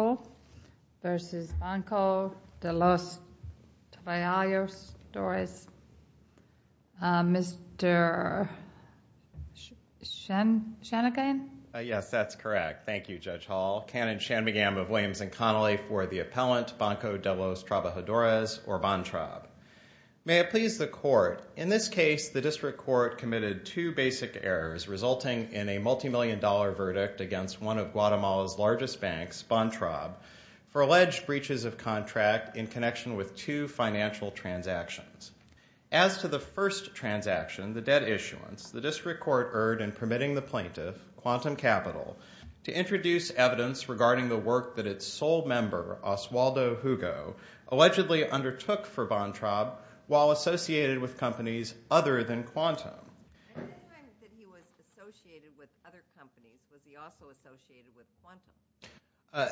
v. Banco De Los Trabajadores, Mr. Shanigan. Yes, that's correct. Thank you, Judge Hall. Canon Shanmugam of Williams and Connolly for the appellant, Banco De Los Trabajadores, or BANTRAB. May it please the Court, in this case, the District Court committed two basic errors resulting in a multi-million dollar verdict against one of Guatemala's largest banks, BANTRAB, for alleged breaches of contract in connection with two financial transactions. As to the first transaction, the debt issuance, the District Court erred in permitting the plaintiff, Quantum Capital, to introduce evidence regarding the work that its sole member, Oswaldo Hugo, allegedly undertook for BANTRAB while associated with companies other than Quantum.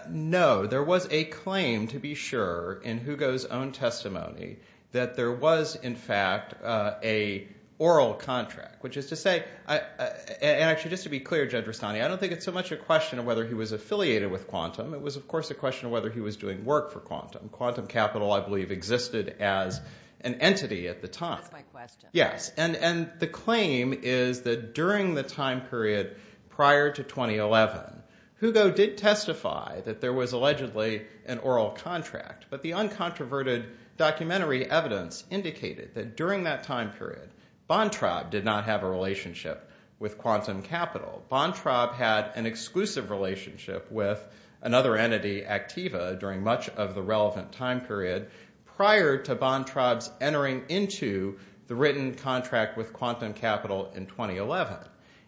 No, there was a claim, to be sure, in Hugo's own testimony that there was, in fact, an oral contract, which is to say, and actually, just to be clear, Judge Rustani, I don't think it's so much a question of whether he was affiliated with Quantum, it was, of course, a question of whether he was doing work for Quantum. Quantum Capital, I believe, existed as an entity at the time. That's my question. Yes, and the claim is that during the time period prior to 2011, Hugo did testify that there was allegedly an oral contract, but the uncontroverted documentary evidence indicated that during that time period, BANTRAB did not have a relationship with Quantum Capital. BANTRAB had an exclusive relationship with another entity, Activa, during much of the relevant time period prior to BANTRAB's entering into the written contract with Quantum Capital in 2011.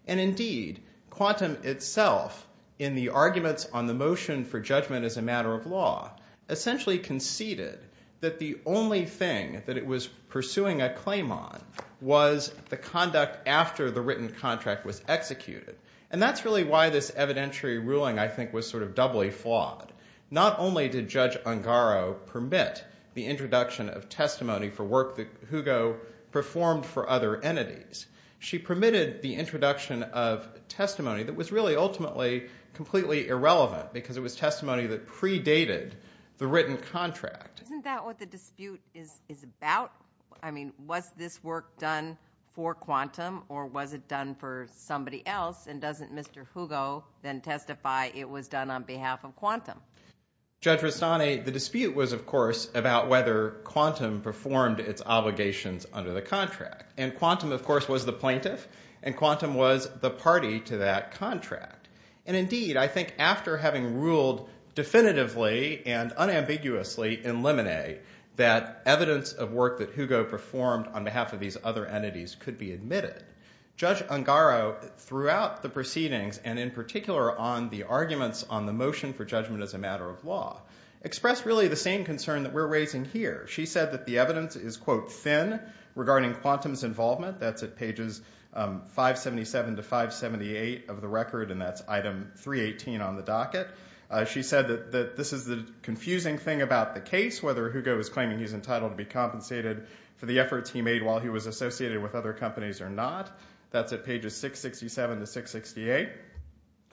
And indeed, Quantum itself, in the arguments on the motion for judgment as a matter of law, essentially conceded that the only thing that it was pursuing a claim on was the conduct after the written contract was executed. And that's really why this evidentiary ruling, I think, was sort of doubly flawed. Not only did Judge Ungaro permit the introduction of testimony for work that Hugo performed for other entities, she permitted the introduction of testimony that was really ultimately completely irrelevant because it was testimony that predated the written contract. Isn't that what the dispute is about? I mean, was this work done for Quantum or was it done for somebody else? And doesn't Mr. Hugo then testify it was done on behalf of Quantum? Judge Rastani, the dispute was, of course, about whether Quantum performed its obligations under the contract. And Quantum, of course, was the plaintiff, and Quantum was the party to that contract. And indeed, I think after having ruled definitively and unambiguously in Lemonet that evidence of work that Hugo performed on behalf of these other entities could be admitted, Judge Ungaro throughout the proceedings, and in particular on the arguments on the motion for judgment as a matter of law, expressed really the same concern that we're raising here. She said that the evidence is, quote, thin regarding Quantum's involvement. That's at pages 577 to 578 of the record, and that's item 318 on the docket. She said that this is the confusing thing about the case, whether Hugo is claiming he's entitled to be compensated for the efforts he made while he was associated with other companies or not. That's at pages 667 to 668.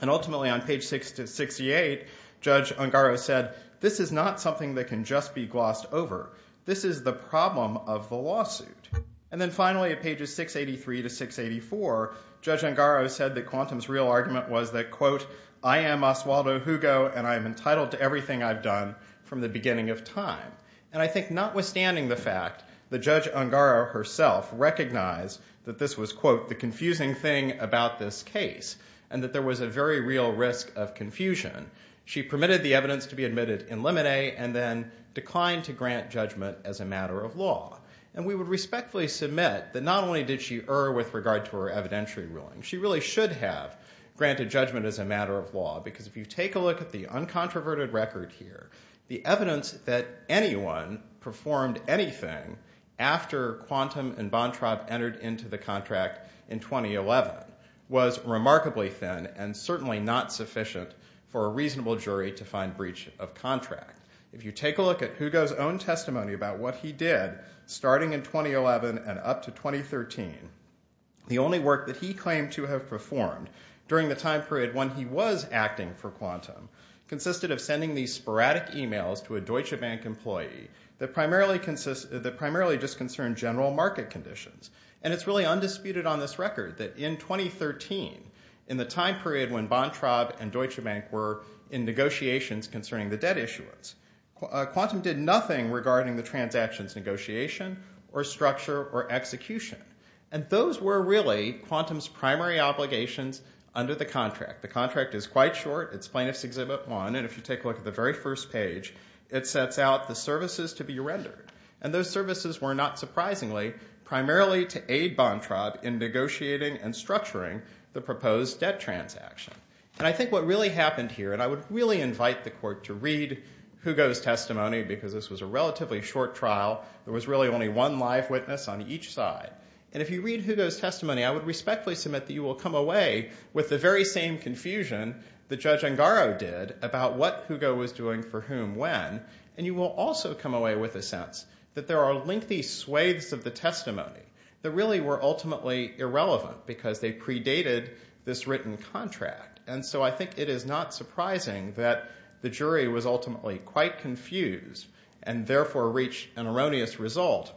And ultimately on page 668, Judge Ungaro said, this is not something that can just be glossed over. This is the problem of the lawsuit. And then finally at pages 683 to 684, Judge Ungaro said that Quantum's real argument was that, quote, I am Oswaldo Hugo, and I am entitled to everything I've done from the beginning of time. And I think notwithstanding the fact that Judge Ungaro herself recognized that this was, quote, the confusing thing about this case and that there was a very real risk of confusion, she permitted the evidence to be admitted in limine and then declined to grant judgment as a matter of law. And we would respectfully submit that not only did she err with regard to her evidentiary ruling, she really should have granted judgment as a matter of law, because if you take a look at the uncontroverted record here, the evidence that anyone performed anything after Quantum and Bontrab entered into the contract in 2011 was remarkably thin and certainly not sufficient for a reasonable jury to find breach of contract. If you take a look at Hugo's own testimony about what he did starting in 2011 and up to 2013, the only work that he claimed to have performed during the time period when he was acting for Quantum consisted of sending these sporadic e-mails to a Deutsche Bank employee that primarily just concerned general market conditions. And it's really undisputed on this record that in 2013, in the time period when Bontrab and Deutsche Bank were in negotiations concerning the debt issuance, Quantum did nothing regarding the transaction's negotiation or structure or execution. And those were really Quantum's primary obligations under the contract. The contract is quite short. It's Plaintiff's Exhibit 1. And if you take a look at the very first page, it sets out the services to be rendered. And those services were not surprisingly primarily to aid Bontrab in negotiating and structuring the proposed debt transaction. And I think what really happened here, and I would really invite the court to read Hugo's testimony, because this was a relatively short trial. There was really only one live witness on each side. And if you read Hugo's testimony, I would respectfully submit that you will come away with the very same confusion that Judge Angaro did about what Hugo was doing for whom when. And you will also come away with a sense that there are lengthy swathes of the testimony that really were ultimately irrelevant because they predated this written contract. And so I think it is not surprising that the jury was ultimately quite confused and therefore reached an erroneous result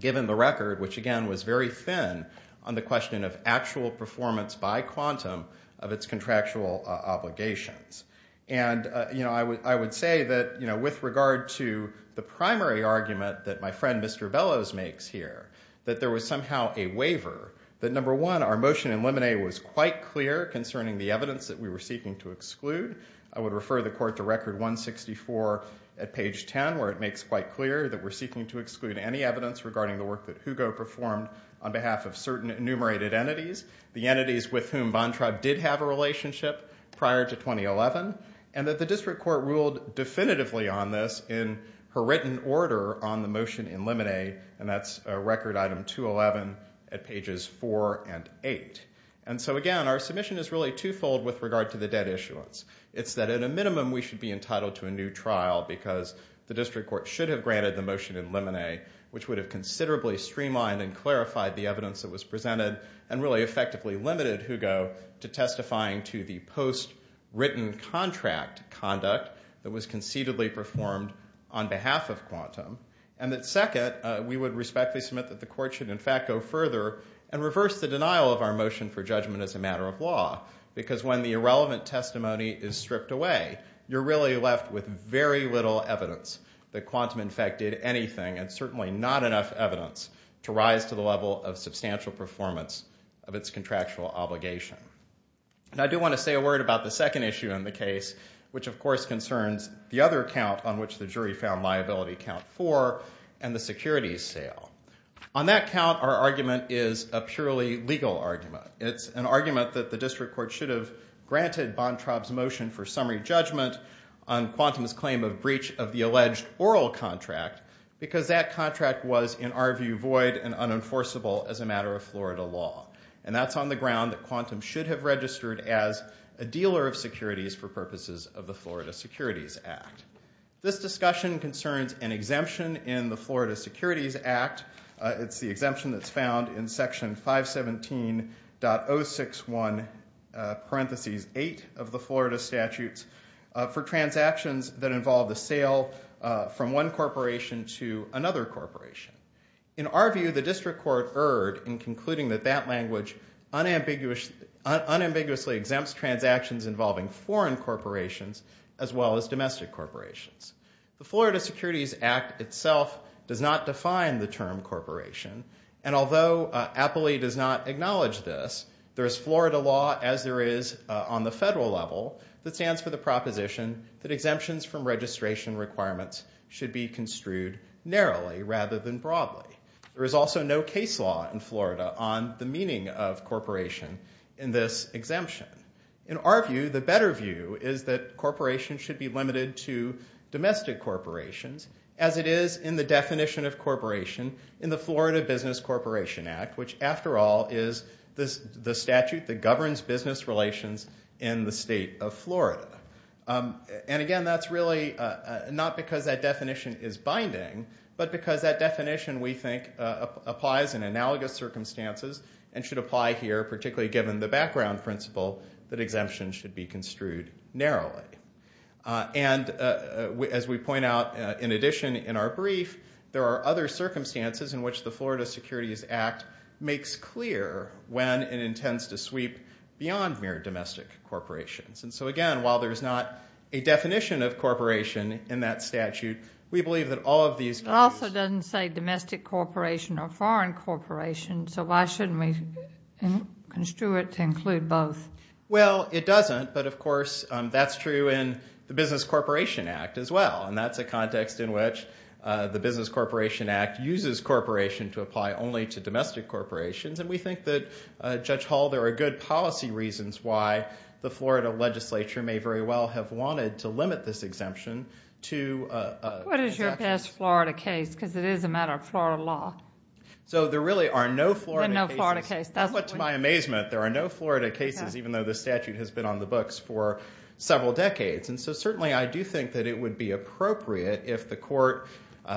given the record, which again was very thin, on the question of actual performance by quantum of its contractual obligations. And I would say that with regard to the primary argument that my friend Mr. Bellows makes here, that there was somehow a waiver. That number one, our motion in Lemonet was quite clear concerning the evidence that we were seeking to exclude. I would refer the court to Record 164 at page 10 where it makes quite clear that we're seeking to exclude any evidence regarding the work that Hugo performed on behalf of certain enumerated entities, the entities with whom Bontra did have a relationship prior to 2011, and that the district court ruled definitively on this in her written order on the motion in Lemonet, and that's Record Item 211 at pages 4 and 8. And so again, our submission is really twofold with regard to the debt issuance. It's that at a minimum we should be entitled to a new trial because the district court should have granted the motion in Lemonet, which would have considerably streamlined and clarified the evidence that was presented and really effectively limited Hugo to testifying to the post-written contract conduct that was concededly performed on behalf of quantum. And that second, we would respectfully submit that the court should in fact go further and reverse the denial of our motion for judgment as a matter of law, because when the irrelevant testimony is stripped away, you're really left with very little evidence that quantum in fact did anything, and certainly not enough evidence to rise to the level of substantial performance of its contractual obligation. And I do want to say a word about the second issue in the case, which of course concerns the other count on which the jury found liability count 4 and the securities sale. On that count, our argument is a purely legal argument. It's an argument that the district court should have granted Bontraub's motion for summary judgment on quantum's claim of breach of the alleged oral contract, because that contract was in our view void and unenforceable as a matter of Florida law. And that's on the ground that quantum should have registered as a dealer of securities for purposes of the Florida Securities Act. This discussion concerns an exemption in the Florida Securities Act. It's the exemption that's found in section 517.061, parentheses 8 of the Florida statutes, for transactions that involve the sale from one corporation to another corporation. In our view, the district court erred in concluding that that language unambiguously exempts transactions involving foreign corporations as well as domestic corporations. The Florida Securities Act itself does not define the term corporation. And although Appley does not acknowledge this, there is Florida law as there is on the federal level that stands for the proposition that exemptions from registration requirements should be construed narrowly rather than broadly. There is also no case law in Florida on the meaning of corporation in this exemption. In our view, the better view is that corporations should be limited to domestic corporations as it is in the definition of corporation in the Florida Business Corporation Act, which after all is the statute that governs business relations in the state of Florida. And again, that's really not because that definition is binding, but because that definition we think applies in analogous circumstances and should apply here, particularly given the background principle that exemptions should be construed narrowly. And as we point out in addition in our brief, there are other circumstances in which the Florida Securities Act makes clear when it intends to sweep beyond mere domestic corporations. And so again, while there's not a definition of corporation in that statute, we believe that all of these can be used. It also doesn't say domestic corporation or foreign corporation, so why shouldn't we construe it to include both? Well, it doesn't, but of course that's true in the Business Corporation Act as well, and that's a context in which the Business Corporation Act uses corporation to apply only to domestic corporations, and we think that, Judge Hall, there are good policy reasons why the Florida legislature may very well have wanted to limit this exemption to... What is your best Florida case? Because it is a matter of Florida law. So there really are no Florida cases. There are no Florida cases. Even though the statute has been on the books for several decades. And so certainly I do think that it would be appropriate if the court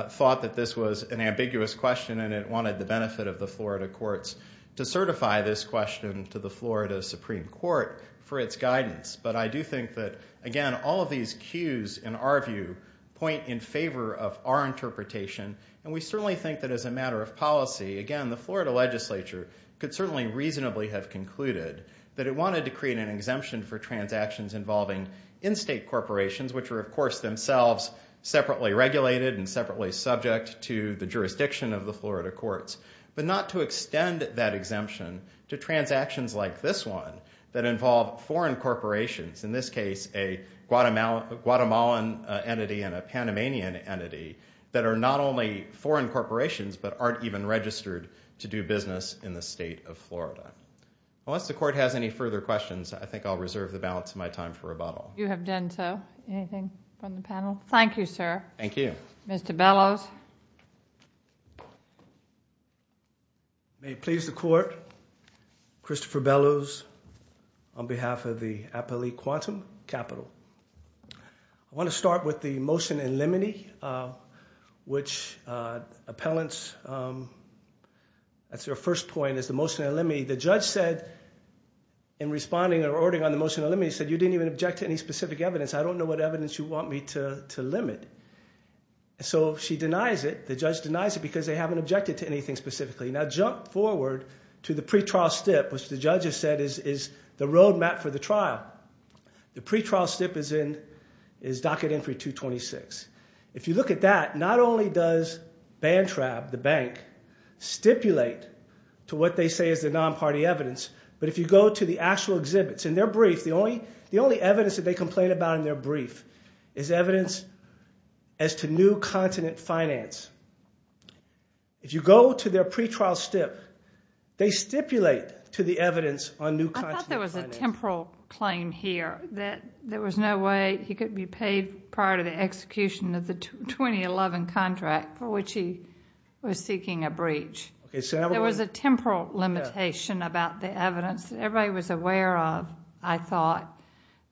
thought that this was an ambiguous question and it wanted the benefit of the Florida courts to certify this question to the Florida Supreme Court for its guidance. But I do think that, again, all of these cues in our view point in favor of our interpretation, and we certainly think that as a matter of policy, again, the Florida legislature could certainly reasonably have concluded that it wanted to create an exemption for transactions involving in-state corporations, which are of course themselves separately regulated and separately subject to the jurisdiction of the Florida courts, but not to extend that exemption to transactions like this one that involve foreign corporations, in this case a Guatemalan entity and a Panamanian entity that are not only foreign corporations but aren't even registered to do business in the state of Florida. Unless the court has any further questions, I think I'll reserve the balance of my time for rebuttal. You have done so. Anything from the panel? Thank you, sir. Thank you. Mr. Bellows. May it please the court, Christopher Bellows on behalf of the Appellee Quantum Capital. I want to start with the motion in limine, which appellants, that's their first point, is the motion in limine. The judge said in responding or ordering on the motion in limine, he said you didn't even object to any specific evidence. I don't know what evidence you want me to limit. So she denies it. The judge denies it because they haven't objected to anything specifically. Now jump forward to the pretrial stip, which the judge has said is the roadmap for the trial. The pretrial stip is docket entry 226. If you look at that, not only does BANTRAB, the bank, stipulate to what they say is the non-party evidence, but if you go to the actual exhibits, in their brief, the only evidence that they complain about in their brief is evidence as to new continent finance. If you go to their pretrial stip, they stipulate to the evidence on new continent finance. I thought there was a temporal claim here that there was no way he could be paid prior to the execution of the 2011 contract for which he was seeking a breach. There was a temporal limitation about the evidence that everybody was aware of, I thought,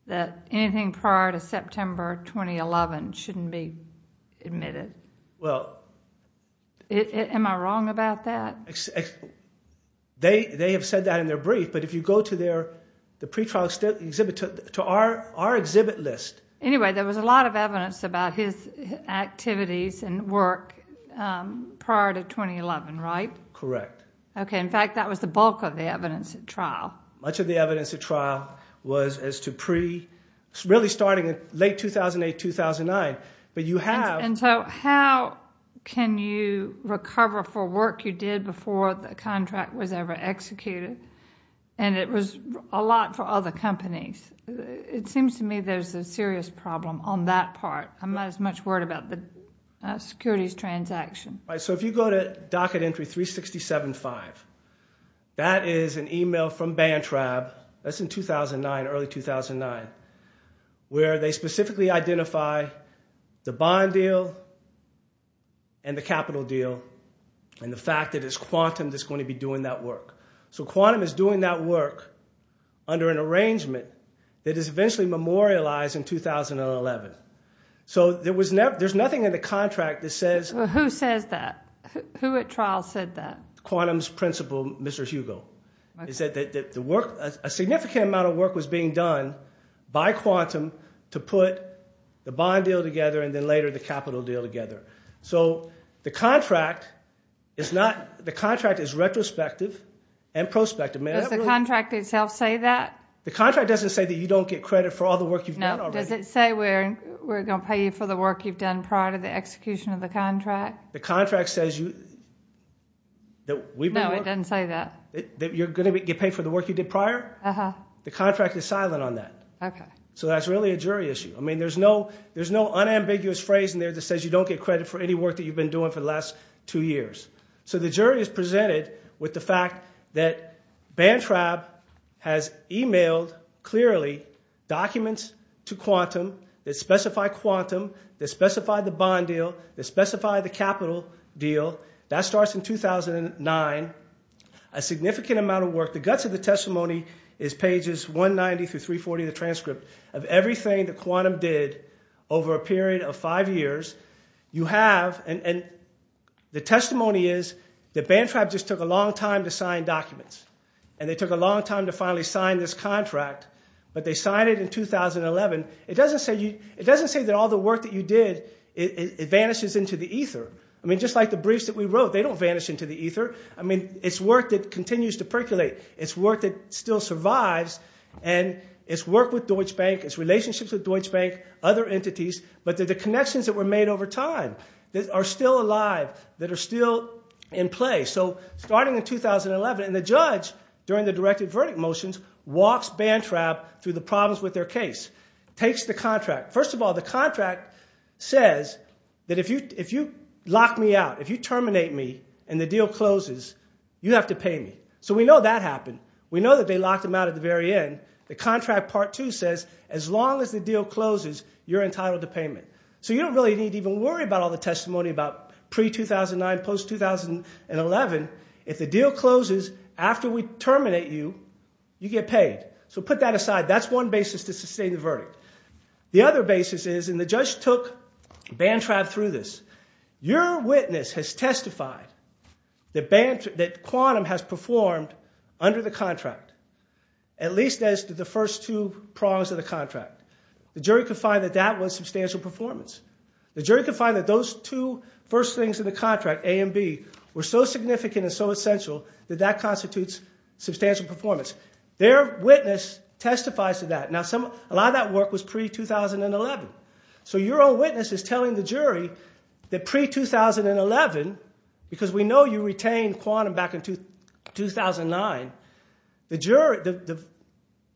that anything prior to September 2011 shouldn't be admitted. Am I wrong about that? They have said that in their brief, but if you go to the pretrial stip exhibit, to our exhibit list. Anyway, there was a lot of evidence about his activities and work prior to 2011, right? Correct. Okay, in fact, that was the bulk of the evidence at trial. Much of the evidence at trial was as to pre-, really starting in late 2008, 2009, but you have- And so how can you recover for work you did before the contract was ever executed? And it was a lot for other companies. It seems to me there's a serious problem on that part. I'm not as much worried about the securities transaction. So if you go to docket entry 367-5, that is an email from BANTRAB, that's in 2009, early 2009, where they specifically identify the bond deal and the capital deal and the fact that it's Quantum that's going to be doing that work. So Quantum is doing that work under an arrangement that is eventually memorialized in 2011. So there's nothing in the contract that says- Who says that? Who at trial said that? Quantum's principal, Mr. Hugo. He said that a significant amount of work was being done by Quantum to put the bond deal together and then later the capital deal together. So the contract is not- the contract is retrospective and prospective. Does the contract itself say that? The contract doesn't say that you don't get credit for all the work you've done already. No, does it say we're going to pay you for the work you've done prior to the execution of the contract? The contract says you- No, it doesn't say that. You're going to get paid for the work you did prior? The contract is silent on that. So that's really a jury issue. I mean, there's no unambiguous phrase in there that says you don't get credit for any work that you've been doing for the last two years. So the jury is presented with the fact that BANTRAB has emailed clearly documents to Quantum that specify Quantum, that specify the bond deal, that specify the capital deal. That starts in 2009, a significant amount of work. The guts of the testimony is pages 190 through 340 of the transcript of everything that Quantum did over a period of five years. You have- and the testimony is that BANTRAB just took a long time to sign documents. And they took a long time to finally sign this contract, but they signed it in 2011. It doesn't say that all the work that you did, it vanishes into the ether. I mean, just like the briefs that we wrote, they don't vanish into the ether. I mean, it's work that continues to percolate. It's work that still survives. And it's work with Deutsche Bank. It's relationships with Deutsche Bank, other entities. But the connections that were made over time are still alive, that are still in play. So starting in 2011, and the judge, during the directed verdict motions, walks BANTRAB through the problems with their case, takes the contract. Says that if you lock me out, if you terminate me and the deal closes, you have to pay me. So we know that happened. We know that they locked him out at the very end. The contract part two says, as long as the deal closes, you're entitled to payment. So you don't really need to even worry about all the testimony about pre-2009, post-2011. If the deal closes after we terminate you, you get paid. That's one basis to sustain the verdict. The other basis is, and the judge took BANTRAB through this, your witness has testified that quantum has performed under the contract, at least as did the first two prongs of the contract. The jury could find that that was substantial performance. The jury could find that those two first things in the contract, A and B, were so significant and so essential that that constitutes substantial performance. Their witness testifies to that. A lot of that work was pre-2011. So your own witness is telling the jury that pre-2011, because we know you retained quantum back in 2009, the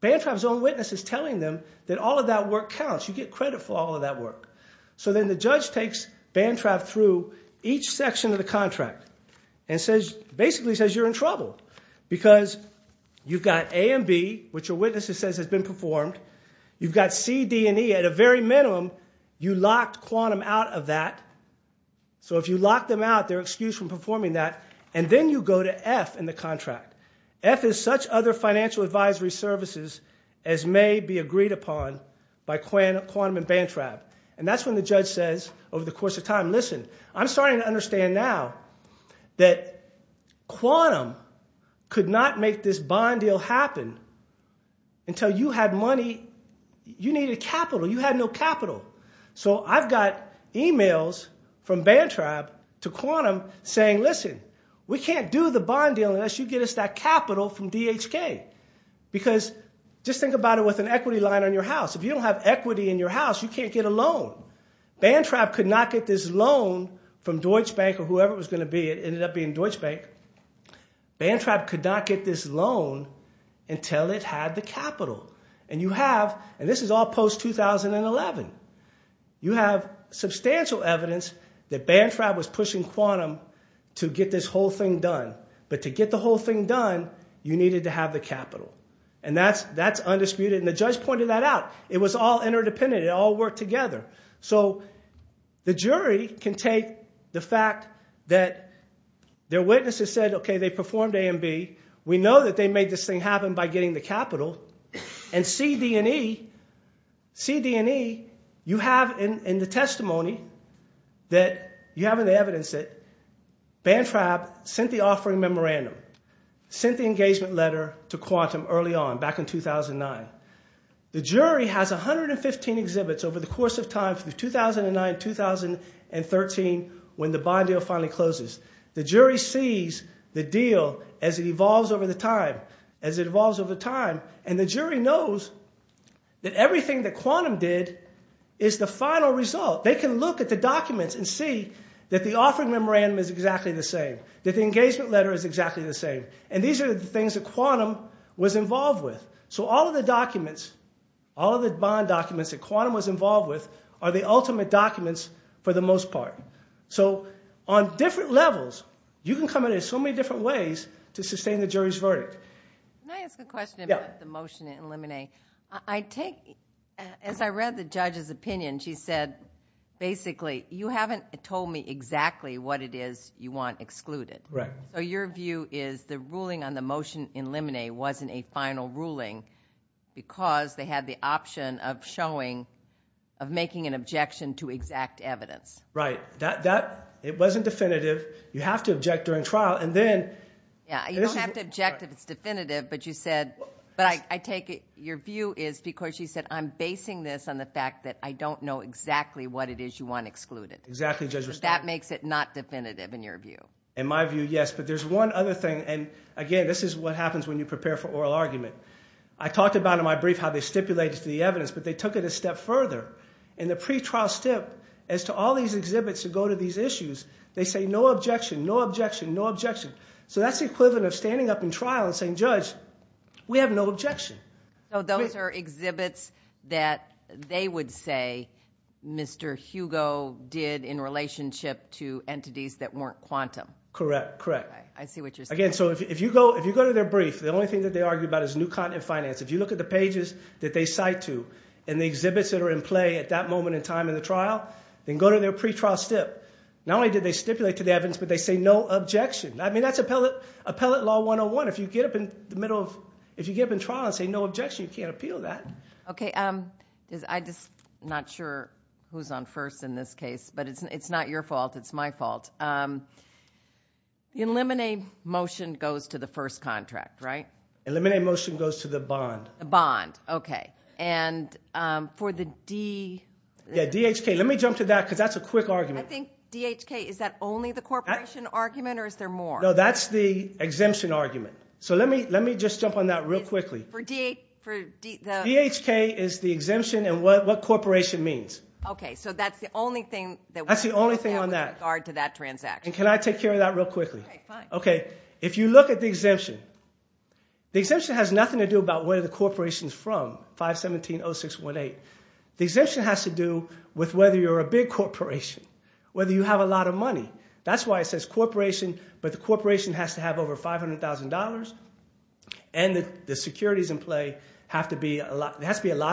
BANTRAB's own witness is telling them that all of that work counts. You get credit for all of that work. So then the judge takes BANTRAB through each section of the contract and basically says you're in trouble because you've got A and B, which your witness says has been performed. You've got C, D, and E. At a very minimum, you locked quantum out of that. So if you locked them out, they're excused from performing that. And then you go to F in the contract. F is such other financial advisory services as may be agreed upon by quantum and BANTRAB. And that's when the judge says, over the course of time, listen, I'm starting to understand now that quantum could not make this bond deal happen until you had money, you needed capital, you had no capital. So I've got emails from BANTRAB to quantum saying, listen, we can't do the bond deal unless you get us that capital from DHK. Because just think about it with an equity line on your house. If you don't have equity in your house, you can't get a loan. BANTRAB could not get this loan from Deutsche Bank or whoever it was going to be. It ended up being Deutsche Bank. BANTRAB could not get this loan until it had the capital. And you have, and this is all post-2011, you have substantial evidence that BANTRAB was pushing quantum to get this whole thing done. But to get the whole thing done, you needed to have the capital. And that's undisputed. And the judge pointed that out. It was all interdependent. It all worked together. So the jury can take the fact that their witnesses said, OK, they performed A and B. We know that they made this thing happen by getting the capital. And C, D, and E, you have in the testimony that you have in the evidence that BANTRAB sent the offering memorandum, sent the engagement letter to quantum early on, back in 2009. The jury has 115 exhibits over the course of time from 2009 to 2013 when the bond deal finally closes. The jury sees the deal as it evolves over time. And the jury knows that everything that quantum did is the final result. They can look at the documents and see that the offering memorandum is exactly the same, that the engagement letter is exactly the same. And these are the things that quantum was involved with. So all of the documents, all of the bond documents that quantum was involved with are the ultimate documents for the most part. So on different levels, you can come at it in so many different ways to sustain the jury's verdict. Can I ask a question about the motion in Limine? I take, as I read the judge's opinion, she said, basically, you haven't told me exactly what it is you want excluded. So your view is the ruling on the motion in Limine wasn't a final ruling because they had the option of showing, of making an objection to exact evidence. Right. It wasn't definitive. You have to object during trial. And then, this is. Yeah, you don't have to object if it's definitive, but you said, but I take it, your view is because she said, I'm basing this on the fact that I don't know exactly what it is you want excluded. Exactly, Judge. That makes it not definitive in your view. In my view, yes. But there's one other thing. And again, this is what happens when you prepare for oral argument. I talked about in my brief how they stipulated the evidence, but they took it a step further. In the pretrial step, as to all these exhibits that go to these issues, they say, no objection, no objection, no objection. So that's the equivalent of standing up in trial and saying, Judge, we have no objection. So those are exhibits that they would say Mr. Hugo did in relationship to entities that weren't quantum. Correct, correct. I see what you're saying. Again, so if you go to their brief, the only thing that they argue about is new content finance. If you look at the pages that they cite to, and the exhibits that are in play at that moment in time in the trial, then go to their pretrial step. Not only did they stipulate to the evidence, but they say no objection. I mean, that's appellate law 101. If you get up in the middle of, if you get up in trial and say no objection, you can't appeal that. OK, I'm just not sure who's on first in this case. But it's not your fault, it's my fault. Eliminate motion goes to the first contract, right? Eliminate motion goes to the bond. The bond, OK. And for the DHK, let me jump to that, because that's a quick argument. I think DHK, is that only the corporation argument, or is there more? No, that's the exemption argument. So let me just jump on that real quickly. For DHK, is the exemption, and what corporation means? OK, so that's the only thing that we're looking at with regard to that transaction. And can I take care of that real quickly? OK, if you look at the exemption, the exemption has nothing to do about where the corporation's from, 517-0618. The exemption has to do with whether you're a big corporation, whether you have a lot of money. That's why it says corporation, but the corporation has to have over $500,000, and the securities in play have to be a lot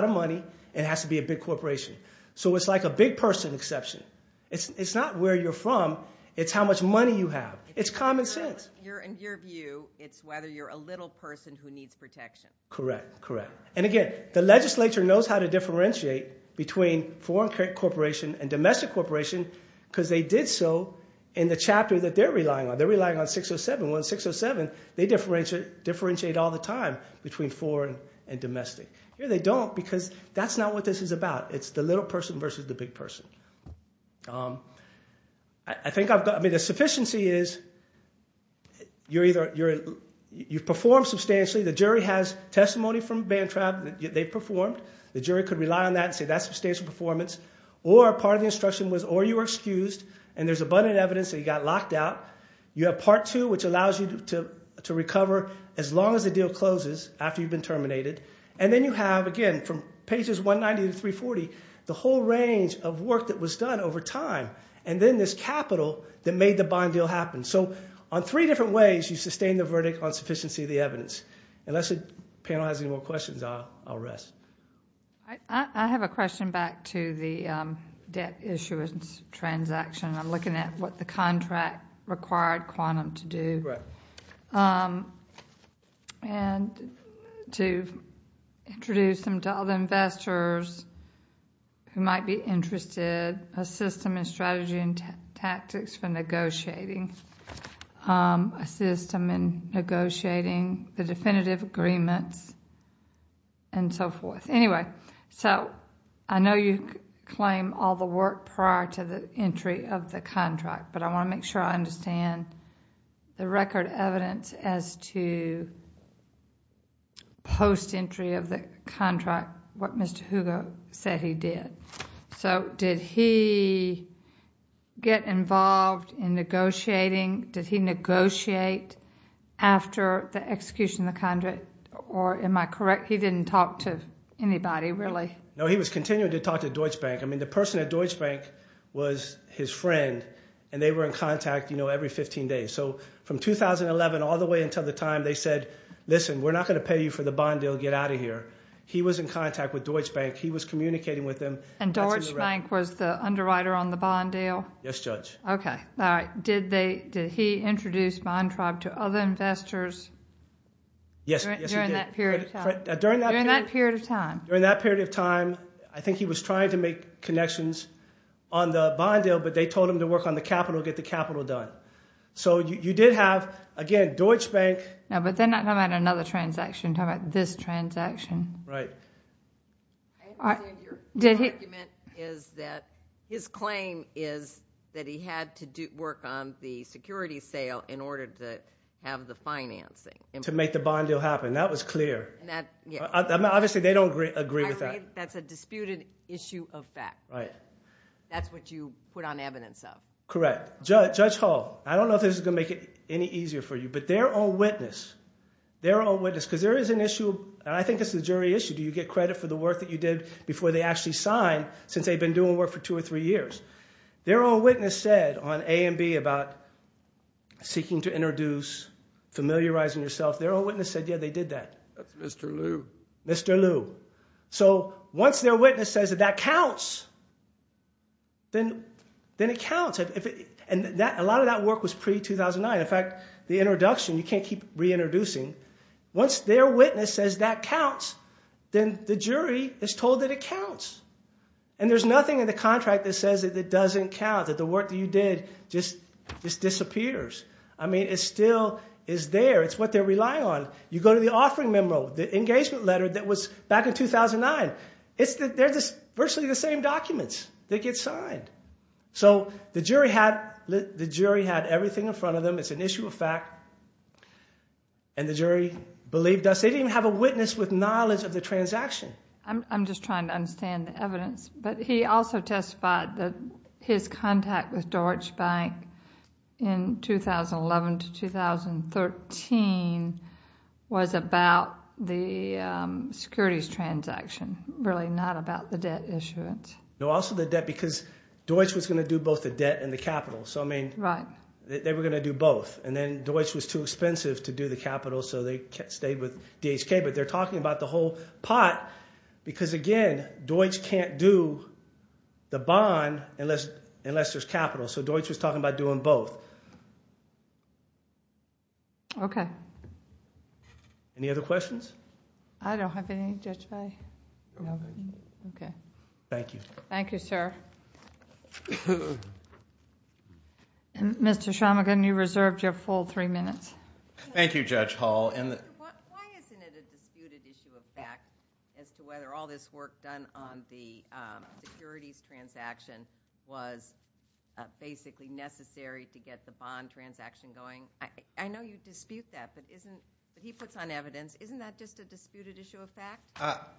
of money, and it has to be a big corporation. So it's like a big person exception. It's not where you're from, it's how much money you have. It's common sense. In your view, it's whether you're a little person who needs protection. Correct, correct. And again, the legislature knows how to differentiate between foreign corporation and domestic corporation, because they did so in the chapter that they're relying on. They're relying on 607. Well, in 607, they differentiate all the time between foreign and domestic. Here they don't, because that's not what this is about. It's the little person versus the big person. The sufficiency is you've performed substantially. The jury has testimony from Bantrap that they've performed. The jury could rely on that and say that's substantial performance, or part of the instruction was, or you were excused, and there's abundant evidence that you got locked out. You have part two, which allows you to recover as long as the deal closes after you've been terminated. And then you have, again, from pages 190 to 340, the whole range of work that was done over time, and then this capital that made the bond deal happen. So on three different ways, you sustain the verdict on sufficiency of the evidence. Unless the panel has any more questions, I'll rest. I have a question back to the debt issuance transaction. I'm looking at what the contract required Quantum to do. Right. And to introduce them to other investors who might be interested, a system and strategy and tactics for negotiating, a system in negotiating the definitive agreements, and so forth. Anyway, so I know you claim all the work prior to the entry of the contract, but I want to make sure I understand the record evidence as to post-entry of the contract, what Mr. Hugo said he did. So did he get involved in negotiating? Did he negotiate after the execution of the contract? Or am I correct, he didn't talk to anybody, really? No, he was continuing to talk to Deutsche Bank. I mean, the person at Deutsche Bank was his friend, and they were in contact every 15 days. So from 2011 all the way until the time they said, listen, we're not going to pay you for the bond deal, get out of here. He was in contact with Deutsche Bank. He was communicating with them. And Deutsche Bank was the underwriter on the bond deal? Yes, Judge. Okay. All right. Did he introduce Bontrabe to other investors during that period of time? During that period of time, I think he was trying to make connections on the bond deal, but they told him to work on the capital, get the capital done. So you did have, again, Deutsche Bank. No, but they're not talking about another transaction. They're talking about this transaction. Right. I understand your argument is that his claim is that he had to work on the security sale in order to have the financing. To make the bond deal happen. That was clear. Obviously, they don't agree with that. That's a disputed issue of fact. That's what you put on evidence of. Correct. Judge Hall, I don't know if this is going to make it any easier for you, but their own witness, their own witness, because there is an issue, and I think this is a jury issue, do you get credit for the work that you did before they actually signed since they've been doing work for two or three years? Their own witness said on A and B about seeking to introduce, familiarizing yourself, their own witness said, yeah, they did that. That's Mr. Liu. Mr. Liu. So once their witness says that that counts, then it counts. And a lot of that work was pre-2009. In fact, the introduction, you can't keep reintroducing. Once their witness says that counts, then the jury is told that it counts. And there's nothing in the contract that says that it doesn't count, that the work that you did just disappears. I mean, it still is there. It's what they're relying on. You go to the offering memo, the engagement letter that was back in 2009. They're just virtually the same documents that get signed. So the jury had everything in front of them. It's an issue of fact. And the jury believed us. They didn't have a witness with knowledge of the transaction. I'm just trying to understand the evidence. But he also testified that his contact with Deutsche Bank in 2011 to 2013 was about the securities transaction, really not about the debt issuance. No, also the debt, because Deutsche was going to do both the debt and the capital. So I mean, they were going to do both. And then Deutsche was too expensive to do the capital, so they stayed with DHK. But they're talking about the whole pot, because again, Deutsche can't do the bond unless there's capital. So Deutsche was talking about doing both. OK. Any other questions? I don't have any, Judge Fahy. OK. Thank you. Thank you, sir. Mr. Schamagen, you reserved your full three minutes. Thank you, Judge Hall. And the... Why isn't it a disputed issue of fact as to whether all this work done on the securities transaction was basically necessary to get the bond transaction going? I know you dispute that, but he puts on evidence. Isn't that just a disputed issue of fact?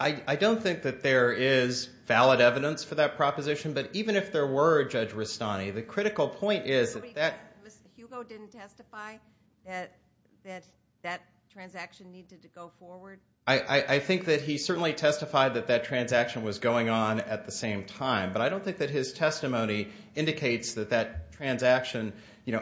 I don't think that there is valid evidence for that proposition. But even if there were, Judge Rustani, the critical point is that that... Hugo didn't testify that that transaction needed to go forward? I think that he certainly testified that that transaction was going on at the same time. But I don't think that his testimony indicates that that transaction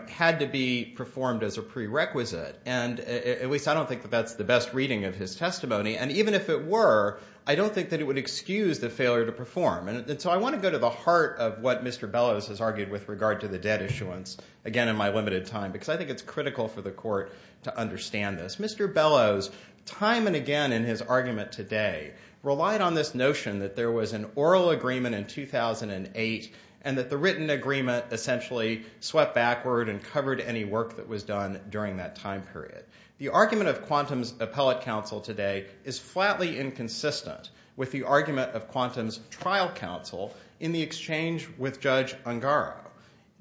had to be performed as a prerequisite. And at least I don't think that that's the best reading of his testimony. And even if it were, I don't think that it would excuse the failure to perform. And so I want to go to the heart of what Mr. Bellows has argued with regard to the debt issuance, again in my limited time, because I think it's critical for the court to understand this. Mr. Bellows, time and again in his argument today, relied on this notion that there was an oral agreement in 2008 and that the written agreement essentially swept backward and covered any work that was done during that time period. The argument of Quantum's appellate counsel today is flatly inconsistent with the argument of Quantum's trial counsel in the exchange with Judge Ungaro.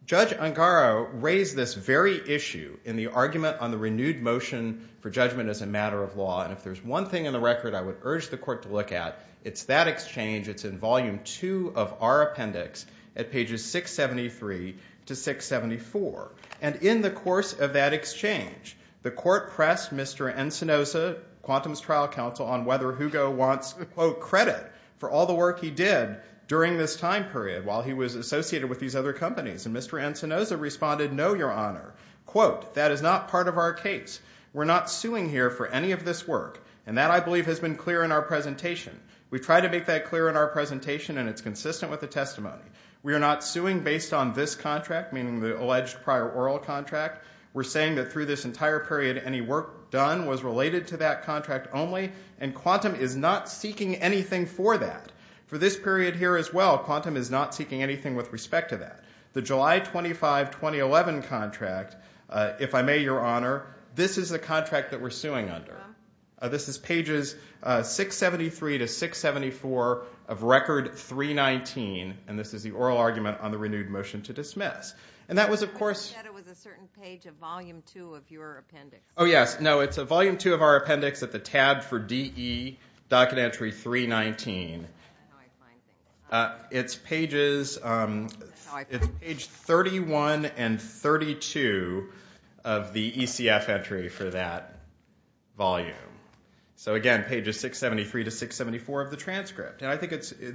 Judge Ungaro raised this very issue in the argument on the renewed motion for judgment as a matter of law. And if there's one thing in the record I would urge the court to look at, it's that exchange. It's in volume two of our appendix at pages 673 to 674. And in the course of that exchange, the court pressed Mr. Encinosa, Quantum's trial counsel, on whether Hugo wants, quote, credit for all the work he did during this time period while he was associated with these other companies. And Mr. Encinosa responded, no, your honor. Quote, that is not part of our case. We're not suing here for any of this work. And that, I believe, has been clear in our presentation. We've tried to make that clear in our presentation, and it's consistent with the testimony. We are not suing based on this contract, meaning the alleged prior oral contract. We're saying that through this entire period any work done was related to that contract only, and Quantum is not seeking anything for that. For this period here as well, Quantum is not seeking anything with respect to that. The July 25, 2011 contract, if I may, your honor, this is the contract that we're suing under. This is pages 673 to 674 of record 319. And this is the oral argument on the renewed motion to dismiss. And that was, of course. You said it was a certain page of volume two of your appendix. Oh, yes. No, it's a volume two of our appendix at the tab for DE, docket entry 319. I don't know how I find that. It's pages 31 and 32 of the ECF entry for that volume. So again, pages 673 to 674 of the transcript. And I think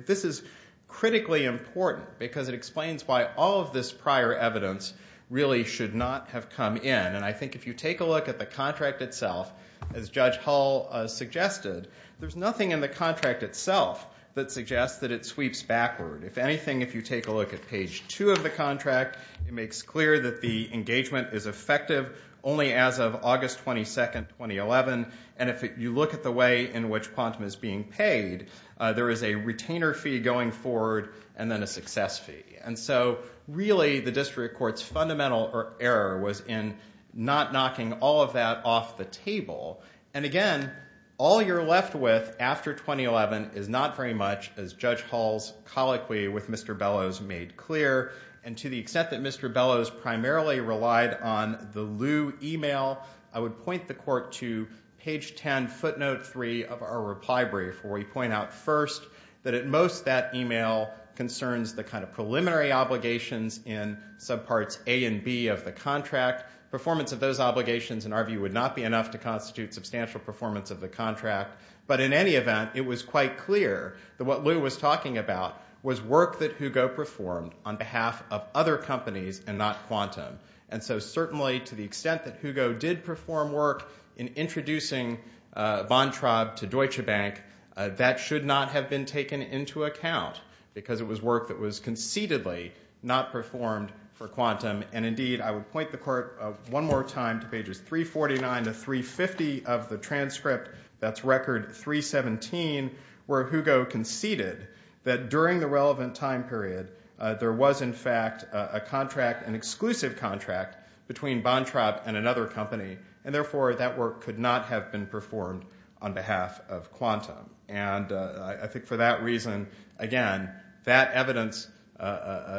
this is critically important, because it explains why all of this prior evidence really should not have come in. And I think if you take a look at the contract itself, as Judge Hull suggested, there's nothing in the contract itself that suggests that it sweeps backward. If anything, if you take a look at page two of the contract, it makes clear that the engagement is effective only as of August 22, 2011. And if you look at the way in which PONTM is being paid, there is a retainer fee going forward and then a success fee. And so really, the district court's fundamental error was in not knocking all of that off the table. And again, all you're left with after 2011 is not very much, as Judge Hull's colloquy with Mr. Bellows made clear. And to the extent that Mr. Bellows primarily relied on the Lew email, I would point the court to page 10, footnote three of our reply brief, where we point out first that at most, that email concerns the kind of preliminary obligations in subparts A and B of the contract. Performance of those obligations, in our view, would not be enough to constitute substantial performance of the contract. But in any event, it was quite clear that what Lew was talking about was work that Hugo performed on behalf of other companies and not Quantum. And so certainly, to the extent that Hugo did perform work in introducing von Traub to Deutsche Bank, that should not have been taken into account because it was work that was conceitedly not performed for Quantum. And indeed, I would point the court one more time to pages 349 to 350 of the transcript, that's record 317, where Hugo conceded that during the relevant time period, there was, in fact, a contract, an exclusive contract, between von Traub and another company. And therefore, that work could not have been performed on behalf of Quantum. And I think for that reason, again, that evidence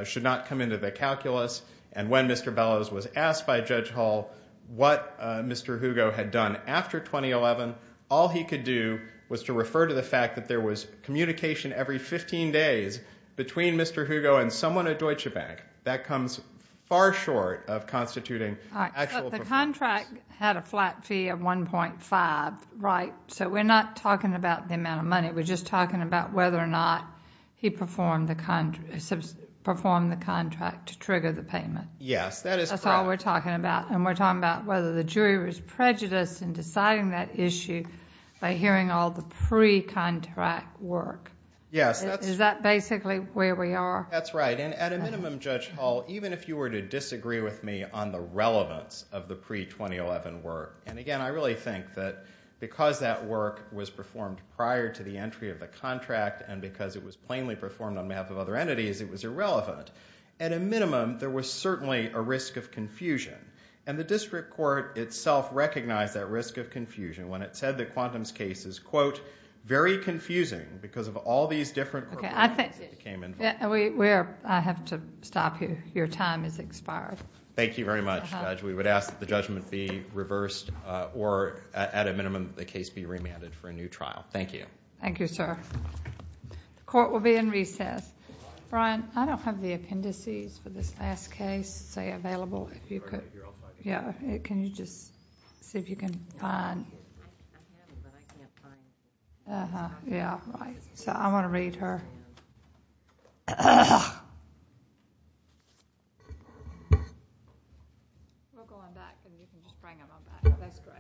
should not come into the calculus. And when Mr. Bellows was asked by Judge Hall, what Mr. Hugo had done after 2011, all he could do was to refer to the fact that there was communication every 15 days between Mr. Hugo and someone at Deutsche Bank. That comes far short of constituting actual performance. But the contract had a flat fee of 1.5, right? So we're not talking about the amount of money. We're just talking about whether or not he performed the contract to trigger the payment. Yes, that is correct. That's all we're talking about. And we're talking about whether the jury was prejudiced in deciding that issue by hearing all the pre-contract work. Yes. Is that basically where we are? That's right. And at a minimum, Judge Hall, even if you were to disagree with me on the relevance of the pre-2011 work, and again, I really think that because that work was performed prior to the entry of the contract and because it was plainly performed on behalf of other entities, it was irrelevant. At a minimum, there was certainly a risk of confusion. And the district court itself recognized that risk of confusion when it said that Quantum's case is, quote, very confusing because of all these different appropriations that came in. I have to stop you. Your time has expired. Thank you very much, Judge. We would ask that the judgment be reversed, or at a minimum, the case be remanded for a new trial. Thank you. Thank you, sir. The court will be in recess. Brian, I don't have the appendices for this last case available if you could. Yeah, can you just see if you can find? Yeah, right. So I'm going to read her. We'll go on back, and you can just bring them on back. That's great. Thank you. Thank you.